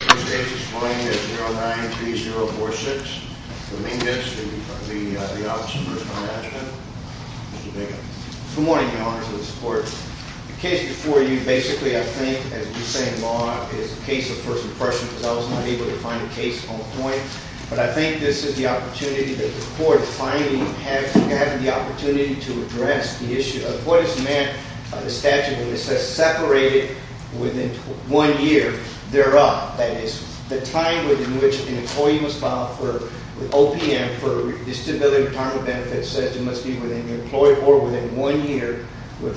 The case this morning is 093046, Dominguez v. the Office of Personal Management. Mr. Dominguez. Good morning, Your Honor, to the support. The case before you, basically, I think, as you say in law, is a case of first impression because I was not able to find a case on point. But I think this is the opportunity that the court is finally having the opportunity to address the issue of what is meant by the statute when it says separated within one year thereof. That is, the time within which an employee was filed with OPM for disability retirement benefits says it must be within the employee or within one year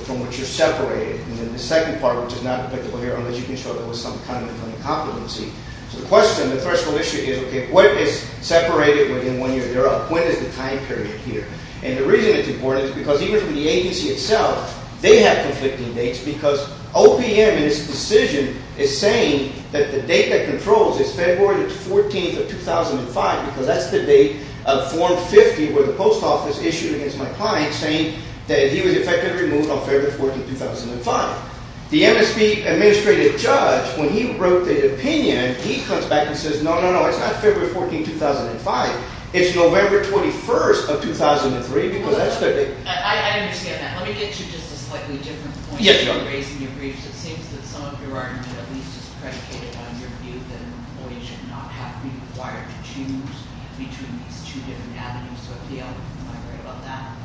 from which you're separated. And then the second part, which is not applicable here, unless you can show there was some kind of incomplency. So the question, the threshold issue is, okay, what is separated within one year thereof? When is the time period here? And the reason it's important is because even for the agency itself, they have conflicting dates because OPM in its decision is saying that the date that controls is February 14th of 2005 because that's the date of Form 50 where the post office issued against my client saying that he was effectively removed on February 14th, 2005. The MSP administrative judge, when he wrote the opinion, he comes back and says, no, no, no, it's not February 14th, 2005. It's November 21st of 2003 because that's the date. I understand that. Let me get to just a slightly different point that you raised in your briefs. It seems that some of your argument at least is predicated on your view that an employee should not have to be required to choose between these two different avenues. Am I right about that?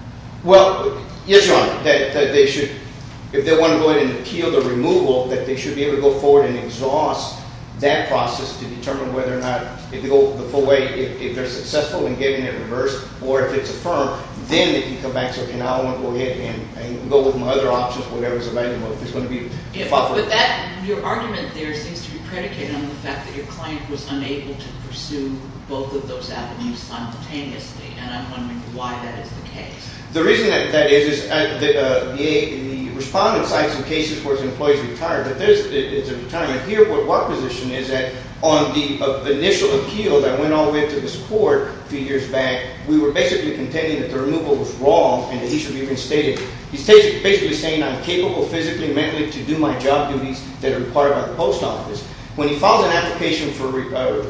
Well, yes, Your Honor, that they should, if they want to go ahead and appeal the removal, that they should be able to go forward and exhaust that process to determine whether or not, if they go the full way, if they're successful in getting it reversed, or if it's affirmed, then they can come back and say, okay, now I want to go ahead and go with my other options, whatever's available. Your argument there seems to be predicated on the fact that your client was unable to pursue both of those avenues simultaneously, and I'm wondering why that is the case. The reason that that is is that the respondent cites some cases where his employee's retired, but this is a retirement. Here, what position is that on the initial appeal that went all the way to this court a few years back, we were basically contending that the removal was wrong and that he should be reinstated. He's basically saying I'm capable physically and mentally to do my job duties that are required by the post office. When he files an application for a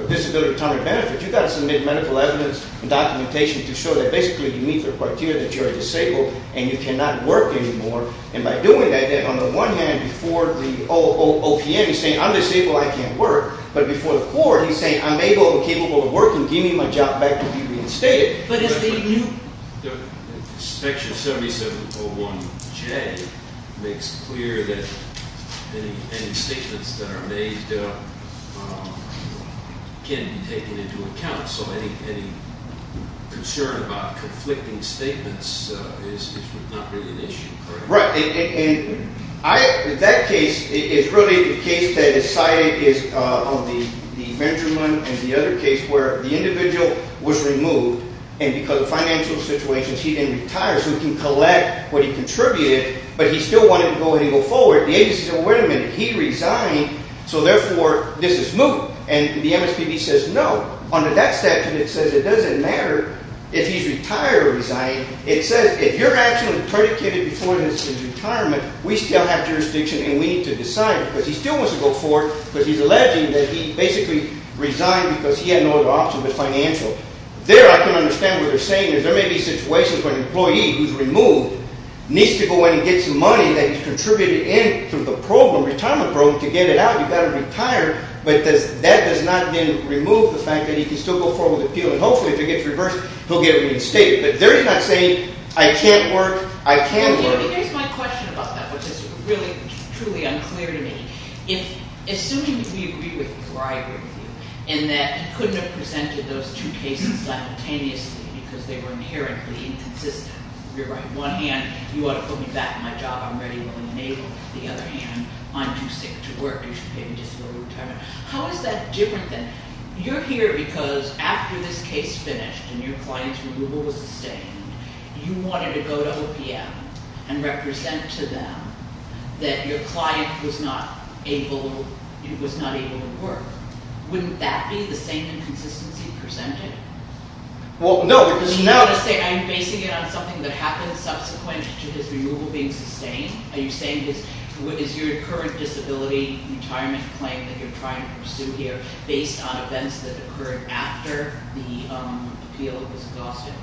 disability retirement benefit, you've got to submit medical evidence and documentation to show that basically you meet the criteria that you are disabled and you cannot work anymore. And by doing that, then on the one hand, before the OPM, he's saying I'm disabled, I can't work. But before the court, he's saying I'm able and capable of working. Give me my job back to be reinstated. Inspection 7701J makes clear that any statements that are made can be taken into account. So any concern about conflicting statements is not really an issue, correct? Right. And that case is really the case that is cited on the Benjamin and the other case where the individual was removed. And because of financial situations, he didn't retire. So he can collect what he contributed, but he still wanted to go ahead and go forward. The agency said, well, wait a minute. He resigned. So therefore, this is smooth. And the MSPB says no. Under that statute, it says it doesn't matter if he's retired or resigned. It says if you're actually predicated before his retirement, we still have jurisdiction and we need to decide it. But he still wants to go forward because he's alleging that he basically resigned because he had no other option but financial. There, I can understand what they're saying is there may be situations where an employee who's removed needs to go in and get some money that he's contributed in through the program, retirement program, to get it out. You've got to retire. But that does not remove the fact that he can still go forward with appeal. And hopefully, if it gets reversed, he'll get reinstated. But they're not saying, I can't work. I can't work. Here's my question about that, which is really, truly unclear to me. Assuming we agree with you, or I agree with you, in that he couldn't have presented those two cases simultaneously because they were inherently inconsistent. You're right. One hand, you ought to put me back in my job. I'm ready, willing, and able. The other hand, I'm too sick to work. You should pay me just a little retirement. How is that different than, you're here because after this case finished and your client's removal was sustained, you wanted to go to OPM and represent to them that your client was not able to work. Wouldn't that be the same inconsistency presented? Well, no, because now- Are you basing it on something that happened subsequent to his removal being sustained? Are you saying, is your current disability retirement claim that you're trying to pursue here based on events that occurred after the appeal was exhausted?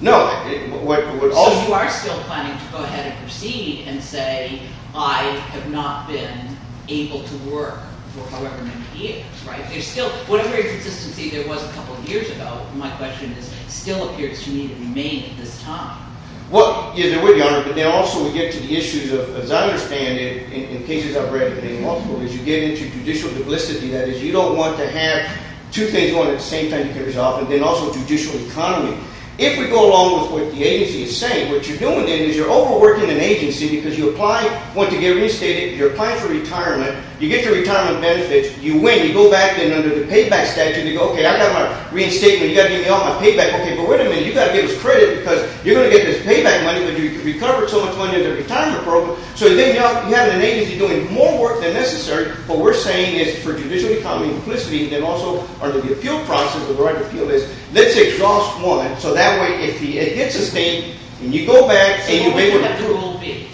No. So you are still planning to go ahead and proceed and say, I have not been able to work for however many years, right? There's still, whatever inconsistency there was a couple years ago, my question is, still appears to me to remain at this time. Well, yes, there were, Your Honor. But then also we get to the issues of, as I understand it, in cases I've read in multiple, is you get into judicial duplicity. That is, you don't want to have two things going at the same time you can resolve, and then also judicial economy. If we go along with what the agency is saying, what you're doing then is you're overworking an agency because you apply, want to get reinstated. You're applying for retirement. You get your retirement benefits. You win. You go back then under the payback statute and you go, okay, I got my reinstatement. You got to give me all my payback. Okay, but wait a minute. You got to give us credit because you're going to get this payback money that you recovered so much money in the retirement program. So then you have an agency doing more work than necessary. What we're saying is for judicial economy, duplicity, and then also under the appeal process, under the right to appeal is, let's exhaust one. So that way if it hits a state and you go back and you're able to. So you won't have to rule B.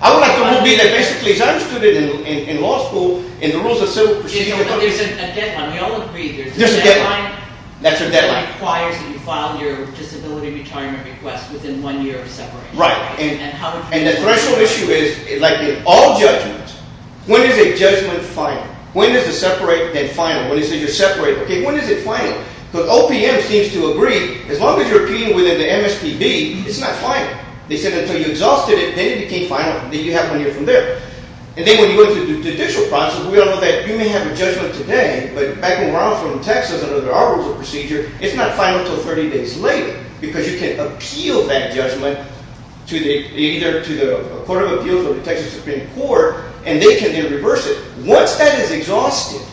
I won't have to rule B. That basically, as I understood it in law school, in the rules of civil procedure. There's a deadline. We all agree there's a deadline. That's a deadline. It requires that you file your disability retirement request within one year of separation. Right. And the threshold issue is, like in all judgments, when is a judgment final? When is the separate then final? When you say you're separate, okay, when is it final? Because OPM seems to agree as long as you're appealing within the MSTD, it's not final. They said until you exhausted it, then it became final. Then you have one year from there. And then when you go into the judicial process, we all know that you may have a judgment today, but back around from Texas under our rules of procedure, it's not final until 30 days later because you can appeal that judgment to either the Court of Appeals or the Texas Supreme Court, and they can then reverse it. Once that is exhausted,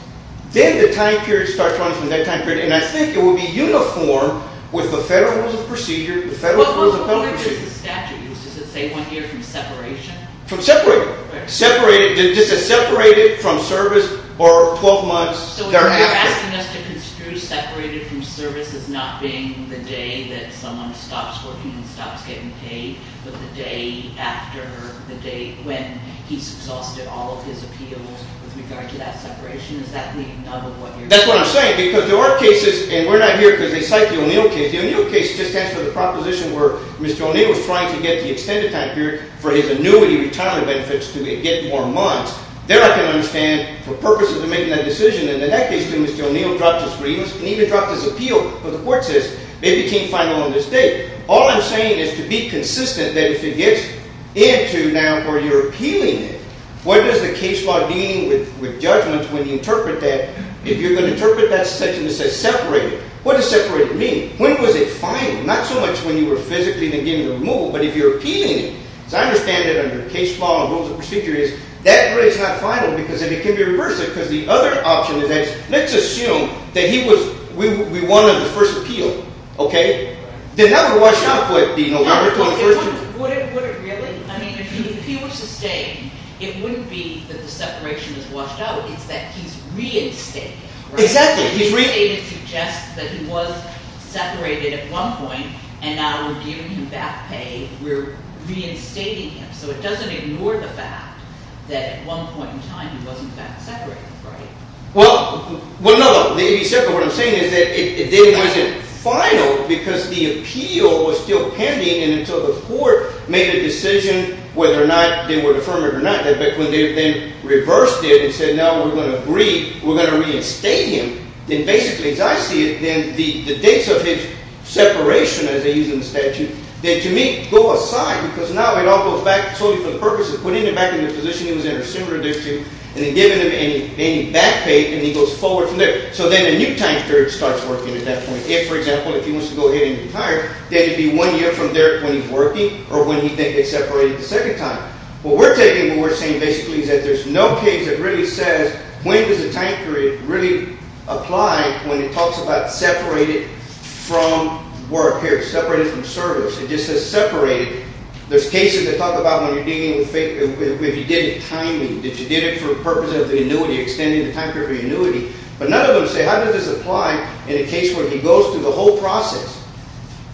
then the time period starts running from that time period, and I think it will be uniform with the federal rules of procedure, the federal rules of federal procedure. What is the statute used? Does it say one year from separation? From separation. Separated. Just a separated from service or 12 months. So you're asking us to construe separated from service as not being the day that someone stops working and stops getting paid, but the day after the date when he's exhausted all of his appeals with regard to that separation? Is that the nub of what you're saying? That's what I'm saying because there are cases, and we're not here because they cite the O'Neill case. The O'Neill case just asked for the proposition where Mr. O'Neill was trying to get the extended time period for his annuity retirement benefits to get more months. There I can understand for purposes of making that decision, and in that case, Mr. O'Neill dropped his grievance and even dropped his appeal, but the court says they became final on this date. All I'm saying is to be consistent that if it gets into now where you're appealing it, what does the case law deem with judgments when you interpret that? If you're going to interpret that section that says separated, what does separated mean? When was it final? Not so much when you were physically then getting the removal, but if you're appealing it. As I understand it under case law and rules of procedure is that rate is not final because then it can be reversed because the other option is that let's assume that he was – we won on the first appeal. Okay? Then that would wash out what the – Would it really? I mean if he were sustained, it wouldn't be that the separation is washed out. It's that he's reinstated. Exactly. He's reinstated suggests that he was separated at one point, and now we're giving him back pay. We're reinstating him. So it doesn't ignore the fact that at one point in time he was, in fact, separated, right? Well, no. What I'm saying is that it then wasn't final because the appeal was still pending and until the court made a decision whether or not they would affirm it or not. But when they then reversed it and said, no, we're going to agree, we're going to reinstate him, then basically as I see it, then the dates of his separation as they use in the statute, they, to me, go aside because now it all goes back solely for the purpose of putting him back in the position he was in or similar to this, and then giving him any back pay, and he goes forward from there. So then a new time period starts working at that point. If, for example, if he wants to go ahead and be hired, then it would be one year from there when he's working or when he's separated the second time. What we're taking, what we're saying basically is that there's no case that really says when does a time period really apply when it talks about separated from work, here, separated from service. It just says separated. There's cases that talk about when you're dealing with, if he did it timely, did you did it for the purpose of the annuity, extending the time period for the annuity, but none of them say how does this apply in a case where he goes through the whole process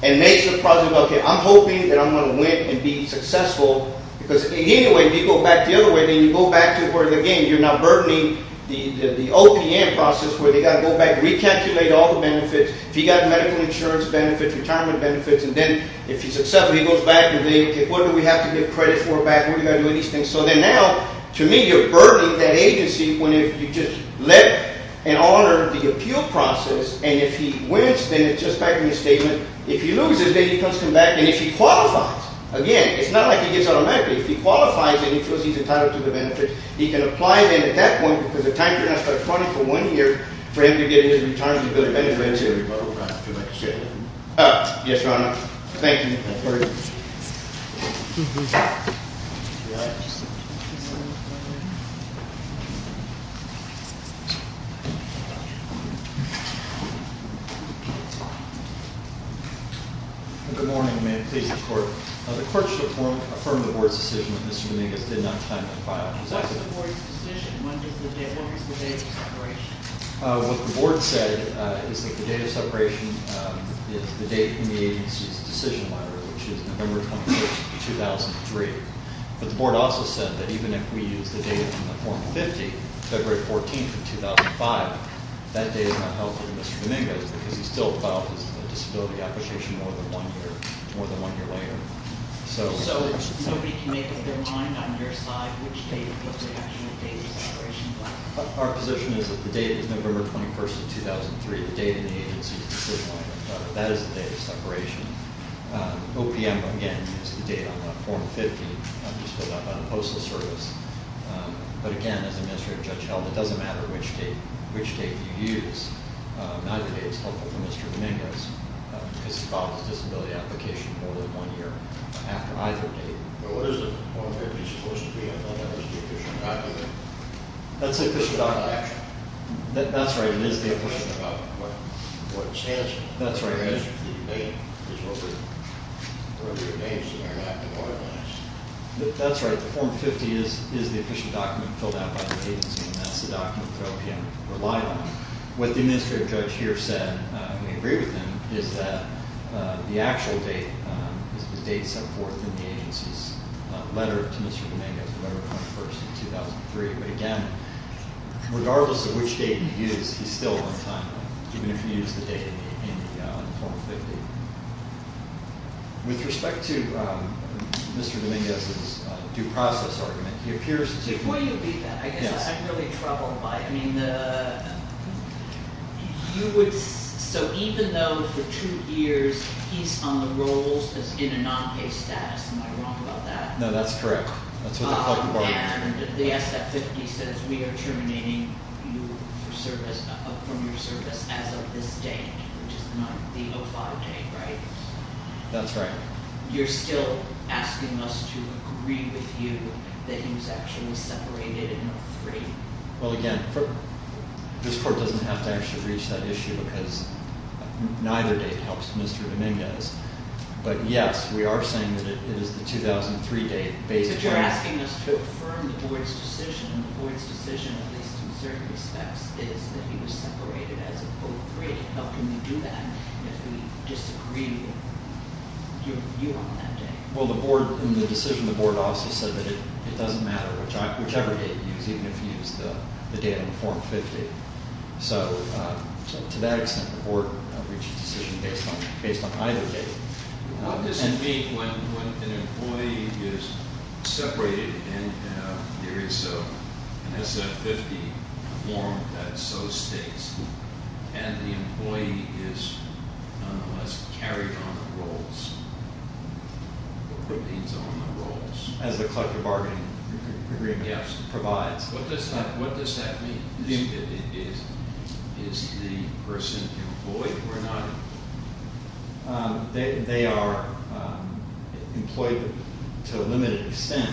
and makes the project, okay, I'm hoping that I'm going to win and be successful because anyway, if you go back the other way, then you go back to where, again, you're now burdening the OPM process where they've got to go back and recalculate all the benefits. If he got medical insurance benefits, retirement benefits, and then if he's successful, he goes back and they, okay, what do we have to give credit for back? What are we going to do with these things? So then now, to me, you're burdening that agency when you just let and honor the appeal process, and if he wins, then it's just back in the statement. If he loses, then he comes back, and if he qualifies, again, it's not like he gets automatically. If he qualifies, then he feels he's entitled to the benefits. He can apply then at that point because the time period has got to be 20 for one year for him to get a new retirement benefit. Anyway, that's it. Yes, Your Honor. Thank you. Good morning. May it please the Court. The Court should affirm the Board's decision that Mr. Venegas did not time to file his evidence. What is the Board's decision? When is the date of separation? What the Board said is that the date of separation is the date from the agency's decision letter, which is November 26, 2003. But the Board also said that even if we use the date from the Form 50, February 14, 2005, that date is not held for Mr. Venegas because he still filed his disability application more than one year later. So nobody can make up their mind on their side which date is the actual date of separation? Our position is that the date is November 21, 2003. The date in the agency's decision letter. That is the date of separation. OPM, again, used the date on that Form 50, just filled out by the Postal Service. But again, as the Administrative Judge held, it doesn't matter which date you use. Neither date is held for Mr. Venegas because he filed his disability application more than one year after either date. But what is the Form 50 supposed to be? I thought that was the official document. That's the official document. That's right. It is the official document. I'm asking about what it stands for. That's right. The answer to the debate is what were your names in there, not the board names. That's right. The Form 50 is the official document filled out by the agency, and that's the document that OPM relied on. What the Administrative Judge here said, and we agree with him, is that the actual date is the date set forth in the agency's letter to Mr. Venegas, November 21, 2003. But again, regardless of which date you use, he's still on time, even if you use the date in the Form 50. With respect to Mr. Venegas' due process argument, he appears to- I guess I'm really troubled by it. So even though for two years he's on the rolls as in a non-pay status, am I wrong about that? No, that's correct. And the SF-50 says we are terminating you from your service as of this date, which is not the 05 date, right? That's right. So you're still asking us to agree with you that he was actually separated in 03? Well, again, this court doesn't have to actually reach that issue because neither date helps Mr. Venegas. But yes, we are saying that it is the 2003 date based on- So you're asking us to affirm the board's decision, and the board's decision, at least in certain respects, is that he was separated as of 03. How can we do that if we disagree with you on that date? Well, the board, in the decision, the board also said that it doesn't matter whichever date you use, even if you use the date on the Form 50. So to that extent, the board reached a decision based on either date. What does it mean when an employee is separated and there is an SF-50 form that so states and the employee is, nonetheless, carried on the roles, or remains on the roles? As the collective bargaining agreement provides. What does that mean? Is the person employed or not? They are employed to a limited extent.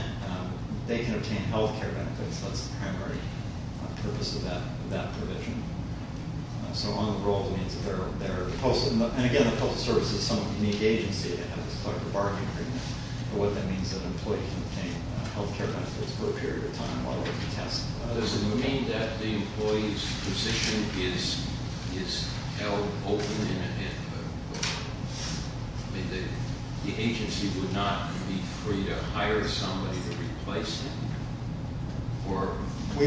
They can obtain health care benefits. That's the primary purpose of that provision. So on the role, it means that they're- And again, the public service is some unique agency that has this collective bargaining agreement. What that means is that an employee can obtain health care benefits for a period of time while they're being tested. Does it mean that the employee's position is held open? I mean, the agency would not be free to hire somebody to replace them? Or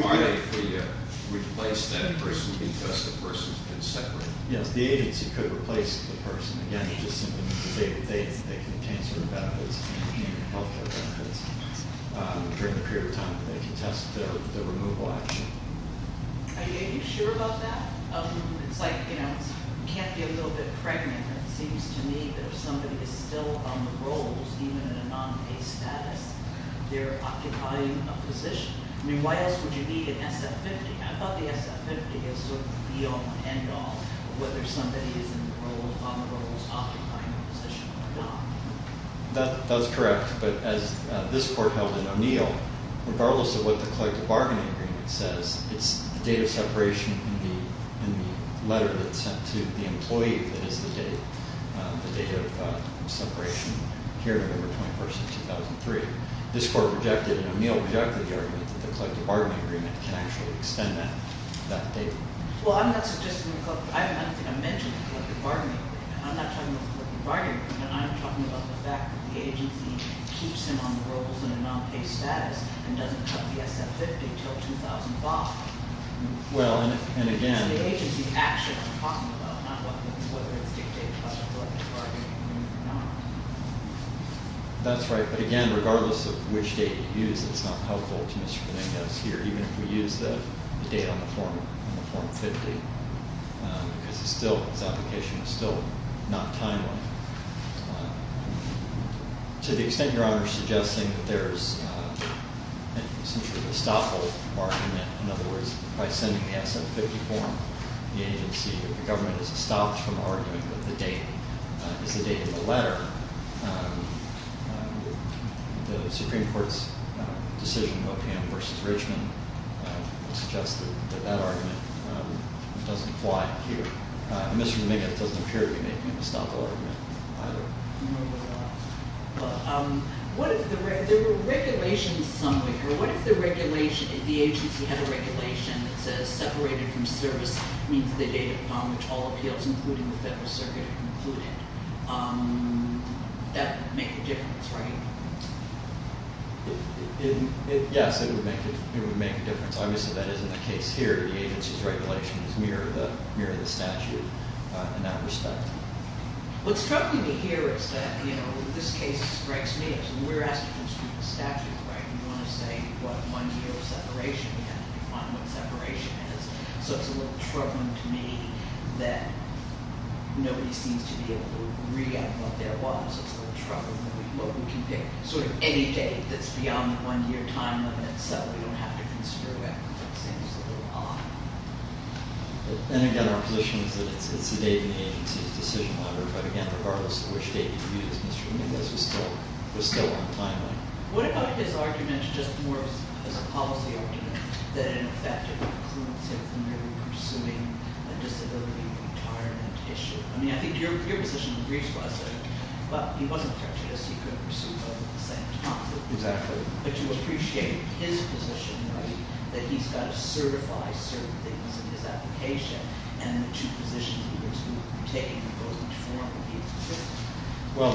are they free to replace that person because the person's been separated? Yes, the agency could replace the person. Again, it just simply means that they can obtain certain benefits and obtain health care benefits during the period of time that they can test the removal action. Are you sure about that? It's like you can't be a little bit pregnant. It seems to me that if somebody is still on the roles, even in a non-pay status, they're occupying a position. I mean, why else would you need an SF50? I thought the SF50 is sort of the be-all, end-all of whether somebody is on the roles, occupying a position or not. That's correct. But as this court held in O'Neill, regardless of what the collective bargaining agreement says, it's the date of separation in the letter that's sent to the employee that is the date, the date of separation here, November 21st of 2003. This court rejected, and O'Neill rejected the argument that the collective bargaining agreement can actually extend that date. Well, I'm not suggesting the collective – I'm not going to mention the collective bargaining agreement. I'm not talking about the collective bargaining agreement. I'm talking about the fact that the agency keeps them on the roles in a non-pay status and doesn't cut the SF50 until 2005. Well, and again – It's the agency's action I'm talking about, not whether it's dictated by the collective bargaining agreement or not. That's right. But again, regardless of which date you use, it's not helpful to Mr. Dominguez here, even if we use the date on the form 50 because it's still – this application is still not timely. To the extent Your Honor is suggesting that there's essentially a stop-hold argument, in other words, by sending the SF50 form, the agency or the government is stopped from arguing that the date is the date of the letter, the Supreme Court's decision, OPM v. Richmond, suggests that that argument doesn't apply here. And Mr. Dominguez doesn't appear to be making a stop-hold argument either. Well, there were regulations somewhere here. What if the agency had a regulation that says separated from service means the date upon which all appeals, including the Federal Circuit, are concluded? That would make a difference, right? Yes, it would make a difference. Obviously, that isn't the case here. The agency's regulations mirror the statute in that respect. What's troubling me here is that, you know, this case strikes me as – we're asked to consider the statute, right? We want to say what one year of separation is. We have to define what separation is. So it's a little troubling to me that nobody seems to be able to read out what there was. It's a little troubling that we – what we can pick sort of any date that's beyond the one-year time limit so we don't have to consider it. It seems a little odd. And again, our position is that it's the date in the agency's decision library. But again, regardless of which date you use, Mr. Dominguez was still on time limit. What about his argument just more as a policy argument, that in effect it would influence him from maybe pursuing a disability retirement issue? I mean, I think your position in the briefs was that he wasn't prejudiced. He couldn't pursue both at the same time. Exactly. But you appreciate his position, right, that he's got to certify certain things in his application, and the two positions he was going to be taking in both each forum would be inconsistent. Well,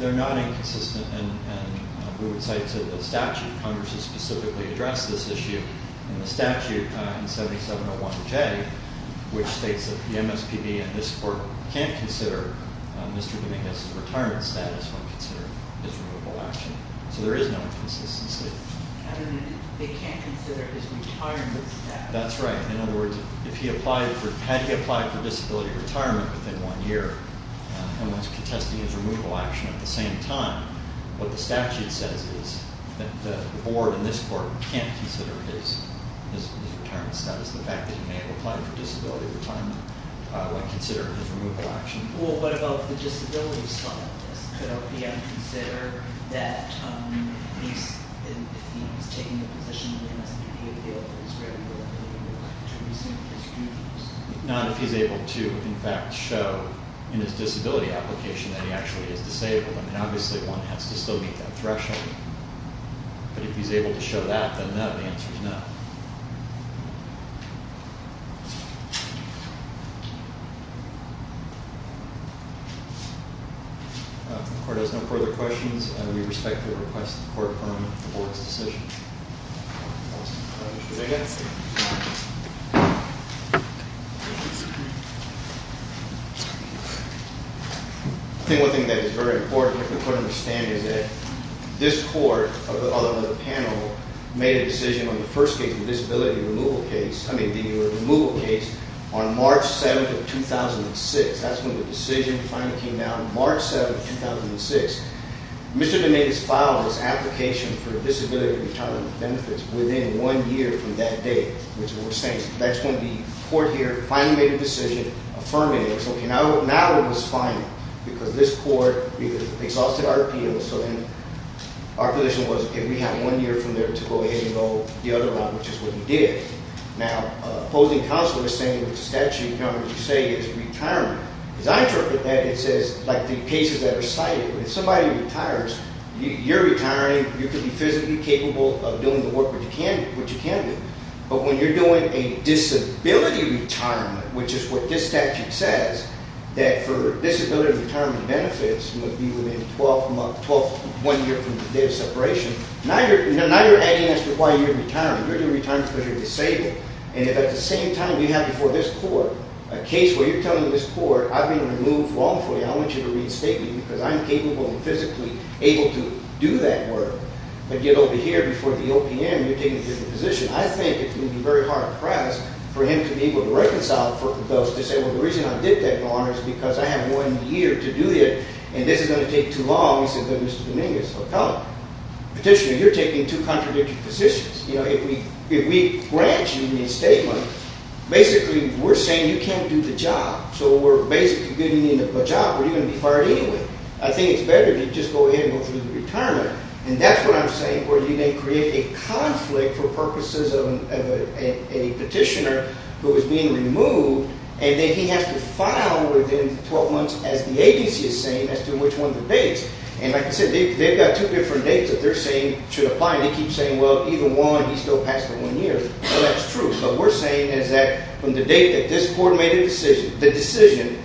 they're not inconsistent, and we would cite to the statute. Congress has specifically addressed this issue in the statute in 7701J, which states that the MSPB and this court can't consider Mr. Dominguez's retirement status when considering his removal action. So there is no inconsistency. I mean, they can't consider his retirement status. That's right. In other words, had he applied for disability retirement within one year and was contesting his removal action at the same time, what the statute says is that the board and this court can't consider his retirement status. The fact that he may have applied for disability retirement when considering his removal action. Well, what about the disability side of this? Could OPM consider that if he was taking the position of the MSPB, he would be able to resume his removal action? Not if he's able to, in fact, show in his disability application that he actually is disabled. I mean, obviously one has to still meet that threshold. But if he's able to show that, then no, the answer is no. The court has no further questions. We respectfully request the court confirm the board's decision. I think one thing that is very important for the court to understand is that this court, although the panel made a decision on the first case, the disability removal case, I mean, the removal case on March 7th of 2006. That's when the decision finally came down, March 7th, 2006. Mr. DeNate has filed his application for disability retirement benefits within one year from that date, which is what we're saying. That's when the court here finally made a decision, affirming it. It was okay. Now it was final, because this court exhausted RPM. So then our position was, okay, we have one year from there to go ahead and go the other route, which is what we did. Now, opposing counsel is saying what the statute covers, you say, is retirement. As I interpret that, it says, like the cases that are cited, when somebody retires, you're retiring, you could be physically capable of doing the work which you can do. But when you're doing a disability retirement, which is what this statute says, that for disability retirement benefits would be within 12 months, 12, one year from the date of separation, now you're adding as to why you're retiring. You're going to retire because you're disabled. And if at the same time you have before this court a case where you're telling this court, I've been removed wrongfully, I want you to reinstate me because I'm capable and physically able to do that work, but get over here before the OPM, you're taking a different position. I think it would be very hard-pressed for him to be able to reconcile for those disabled. The reason I did that, Your Honor, is because I have one year to do it, and this is going to take too long. He said, but Mr. DeNate is a fellow petitioner, you're taking two contradictory positions. If we grant you reinstatement, basically we're saying you can't do the job, so we're basically giving you a job where you're going to be fired anyway. I think it's better to just go ahead and go through the retirement. And that's what I'm saying where you may create a conflict for purposes of a petitioner who is being removed, and then he has to file within 12 months as the agency is saying as to which one of the dates. And like I said, they've got two different dates that they're saying should apply. They keep saying, well, either one, he's still past the one year. Well, that's true, but we're saying is that from the date that this court made the decision,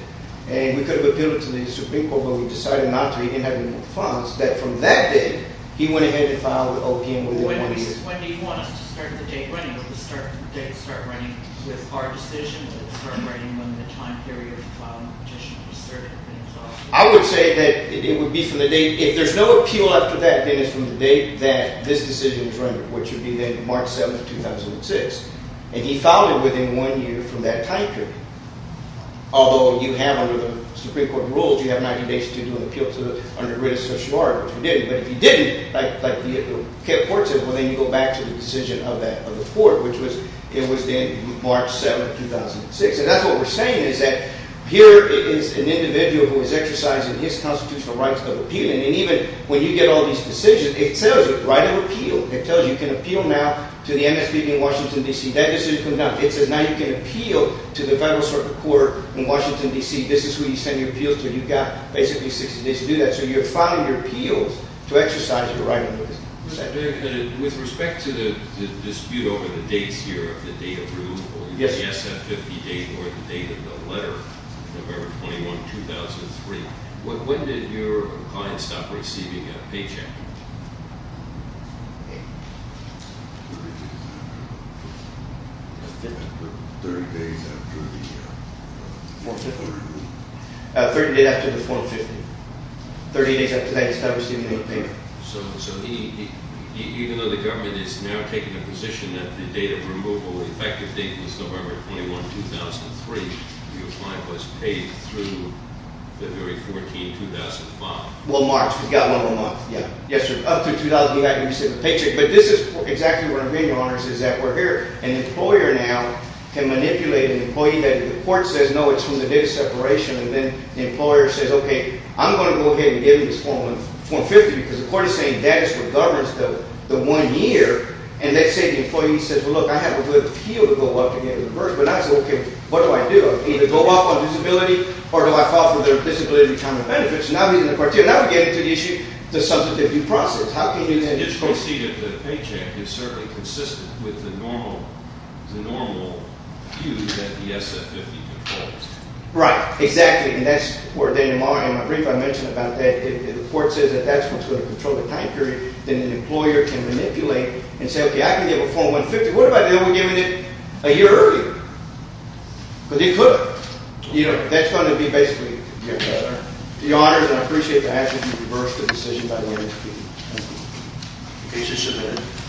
and we could have appealed it to the Supreme Court, but we decided not to. He didn't have any more funds. That from that date, he went ahead and filed with OPM within one year. When do you want us to start the date running? Will the date start running with our decision? Will it start running when the time period of filing the petition is certain? I would say that it would be from the date. If there's no appeal after that, then it's from the date that this decision is run, which would be then March 7, 2006. And he filed it within one year from that time period. Although you have, under the Supreme Court rules, you have 90 days to do an appeal under written certiorari, which we didn't. But if you didn't, like the court said, well, then you go back to the decision of the court, which was it was then March 7, 2006. And that's what we're saying is that here is an individual who is exercising his constitutional rights of appeal. And even when you get all these decisions, it tells you, write an appeal. It tells you, you can appeal now to the MSPB in Washington, D.C. That decision comes out. It says now you can appeal to the Federal Circuit Court in Washington, D.C. This is who you send your appeals to. You've got basically 60 days to do that. So you're filing your appeals to exercise your right of appeal. With respect to the dispute over the dates here, the date of removal, the SF50 date or the date of the letter, November 21, 2003, when did your client stop receiving a paycheck? 30 days after the 415. 30 days after that he stopped receiving a paycheck. So even though the government is now taking a position that the date of removal, the effective date was November 21, 2003, your client was paid through February 14, 2005. Well, March. We got one more month. Yes, sir. Up to 2009, he received a paycheck. But this is exactly what I'm getting at, Your Honors, is that we're here. An employer now can manipulate an employee. The court says, no, it's from the date of separation. And then the employer says, okay, I'm going to go ahead and give him this form 50 because the court is saying that is what governs the one year. And let's say the employee says, well, look, I have a good appeal to go up and get reversed. But now I say, okay, what do I do? Either go off on disability or do I file for their disability retirement benefits? Now we're getting to the issue of the substantive due process. It's conceded that a paycheck is certainly consistent with the normal view that the SF50 conforms to. Right. Exactly. And that's where Daniel Morrow, in my brief, I mentioned about that. If the court says that that's what's going to control the time period, then an employer can manipulate and say, okay, I can give a form 150. What if I didn't give it a year earlier? Because he couldn't. That's going to be basically, Your Honors, and I appreciate the action to reverse the decision by the entity. Thank you. Case is submitted.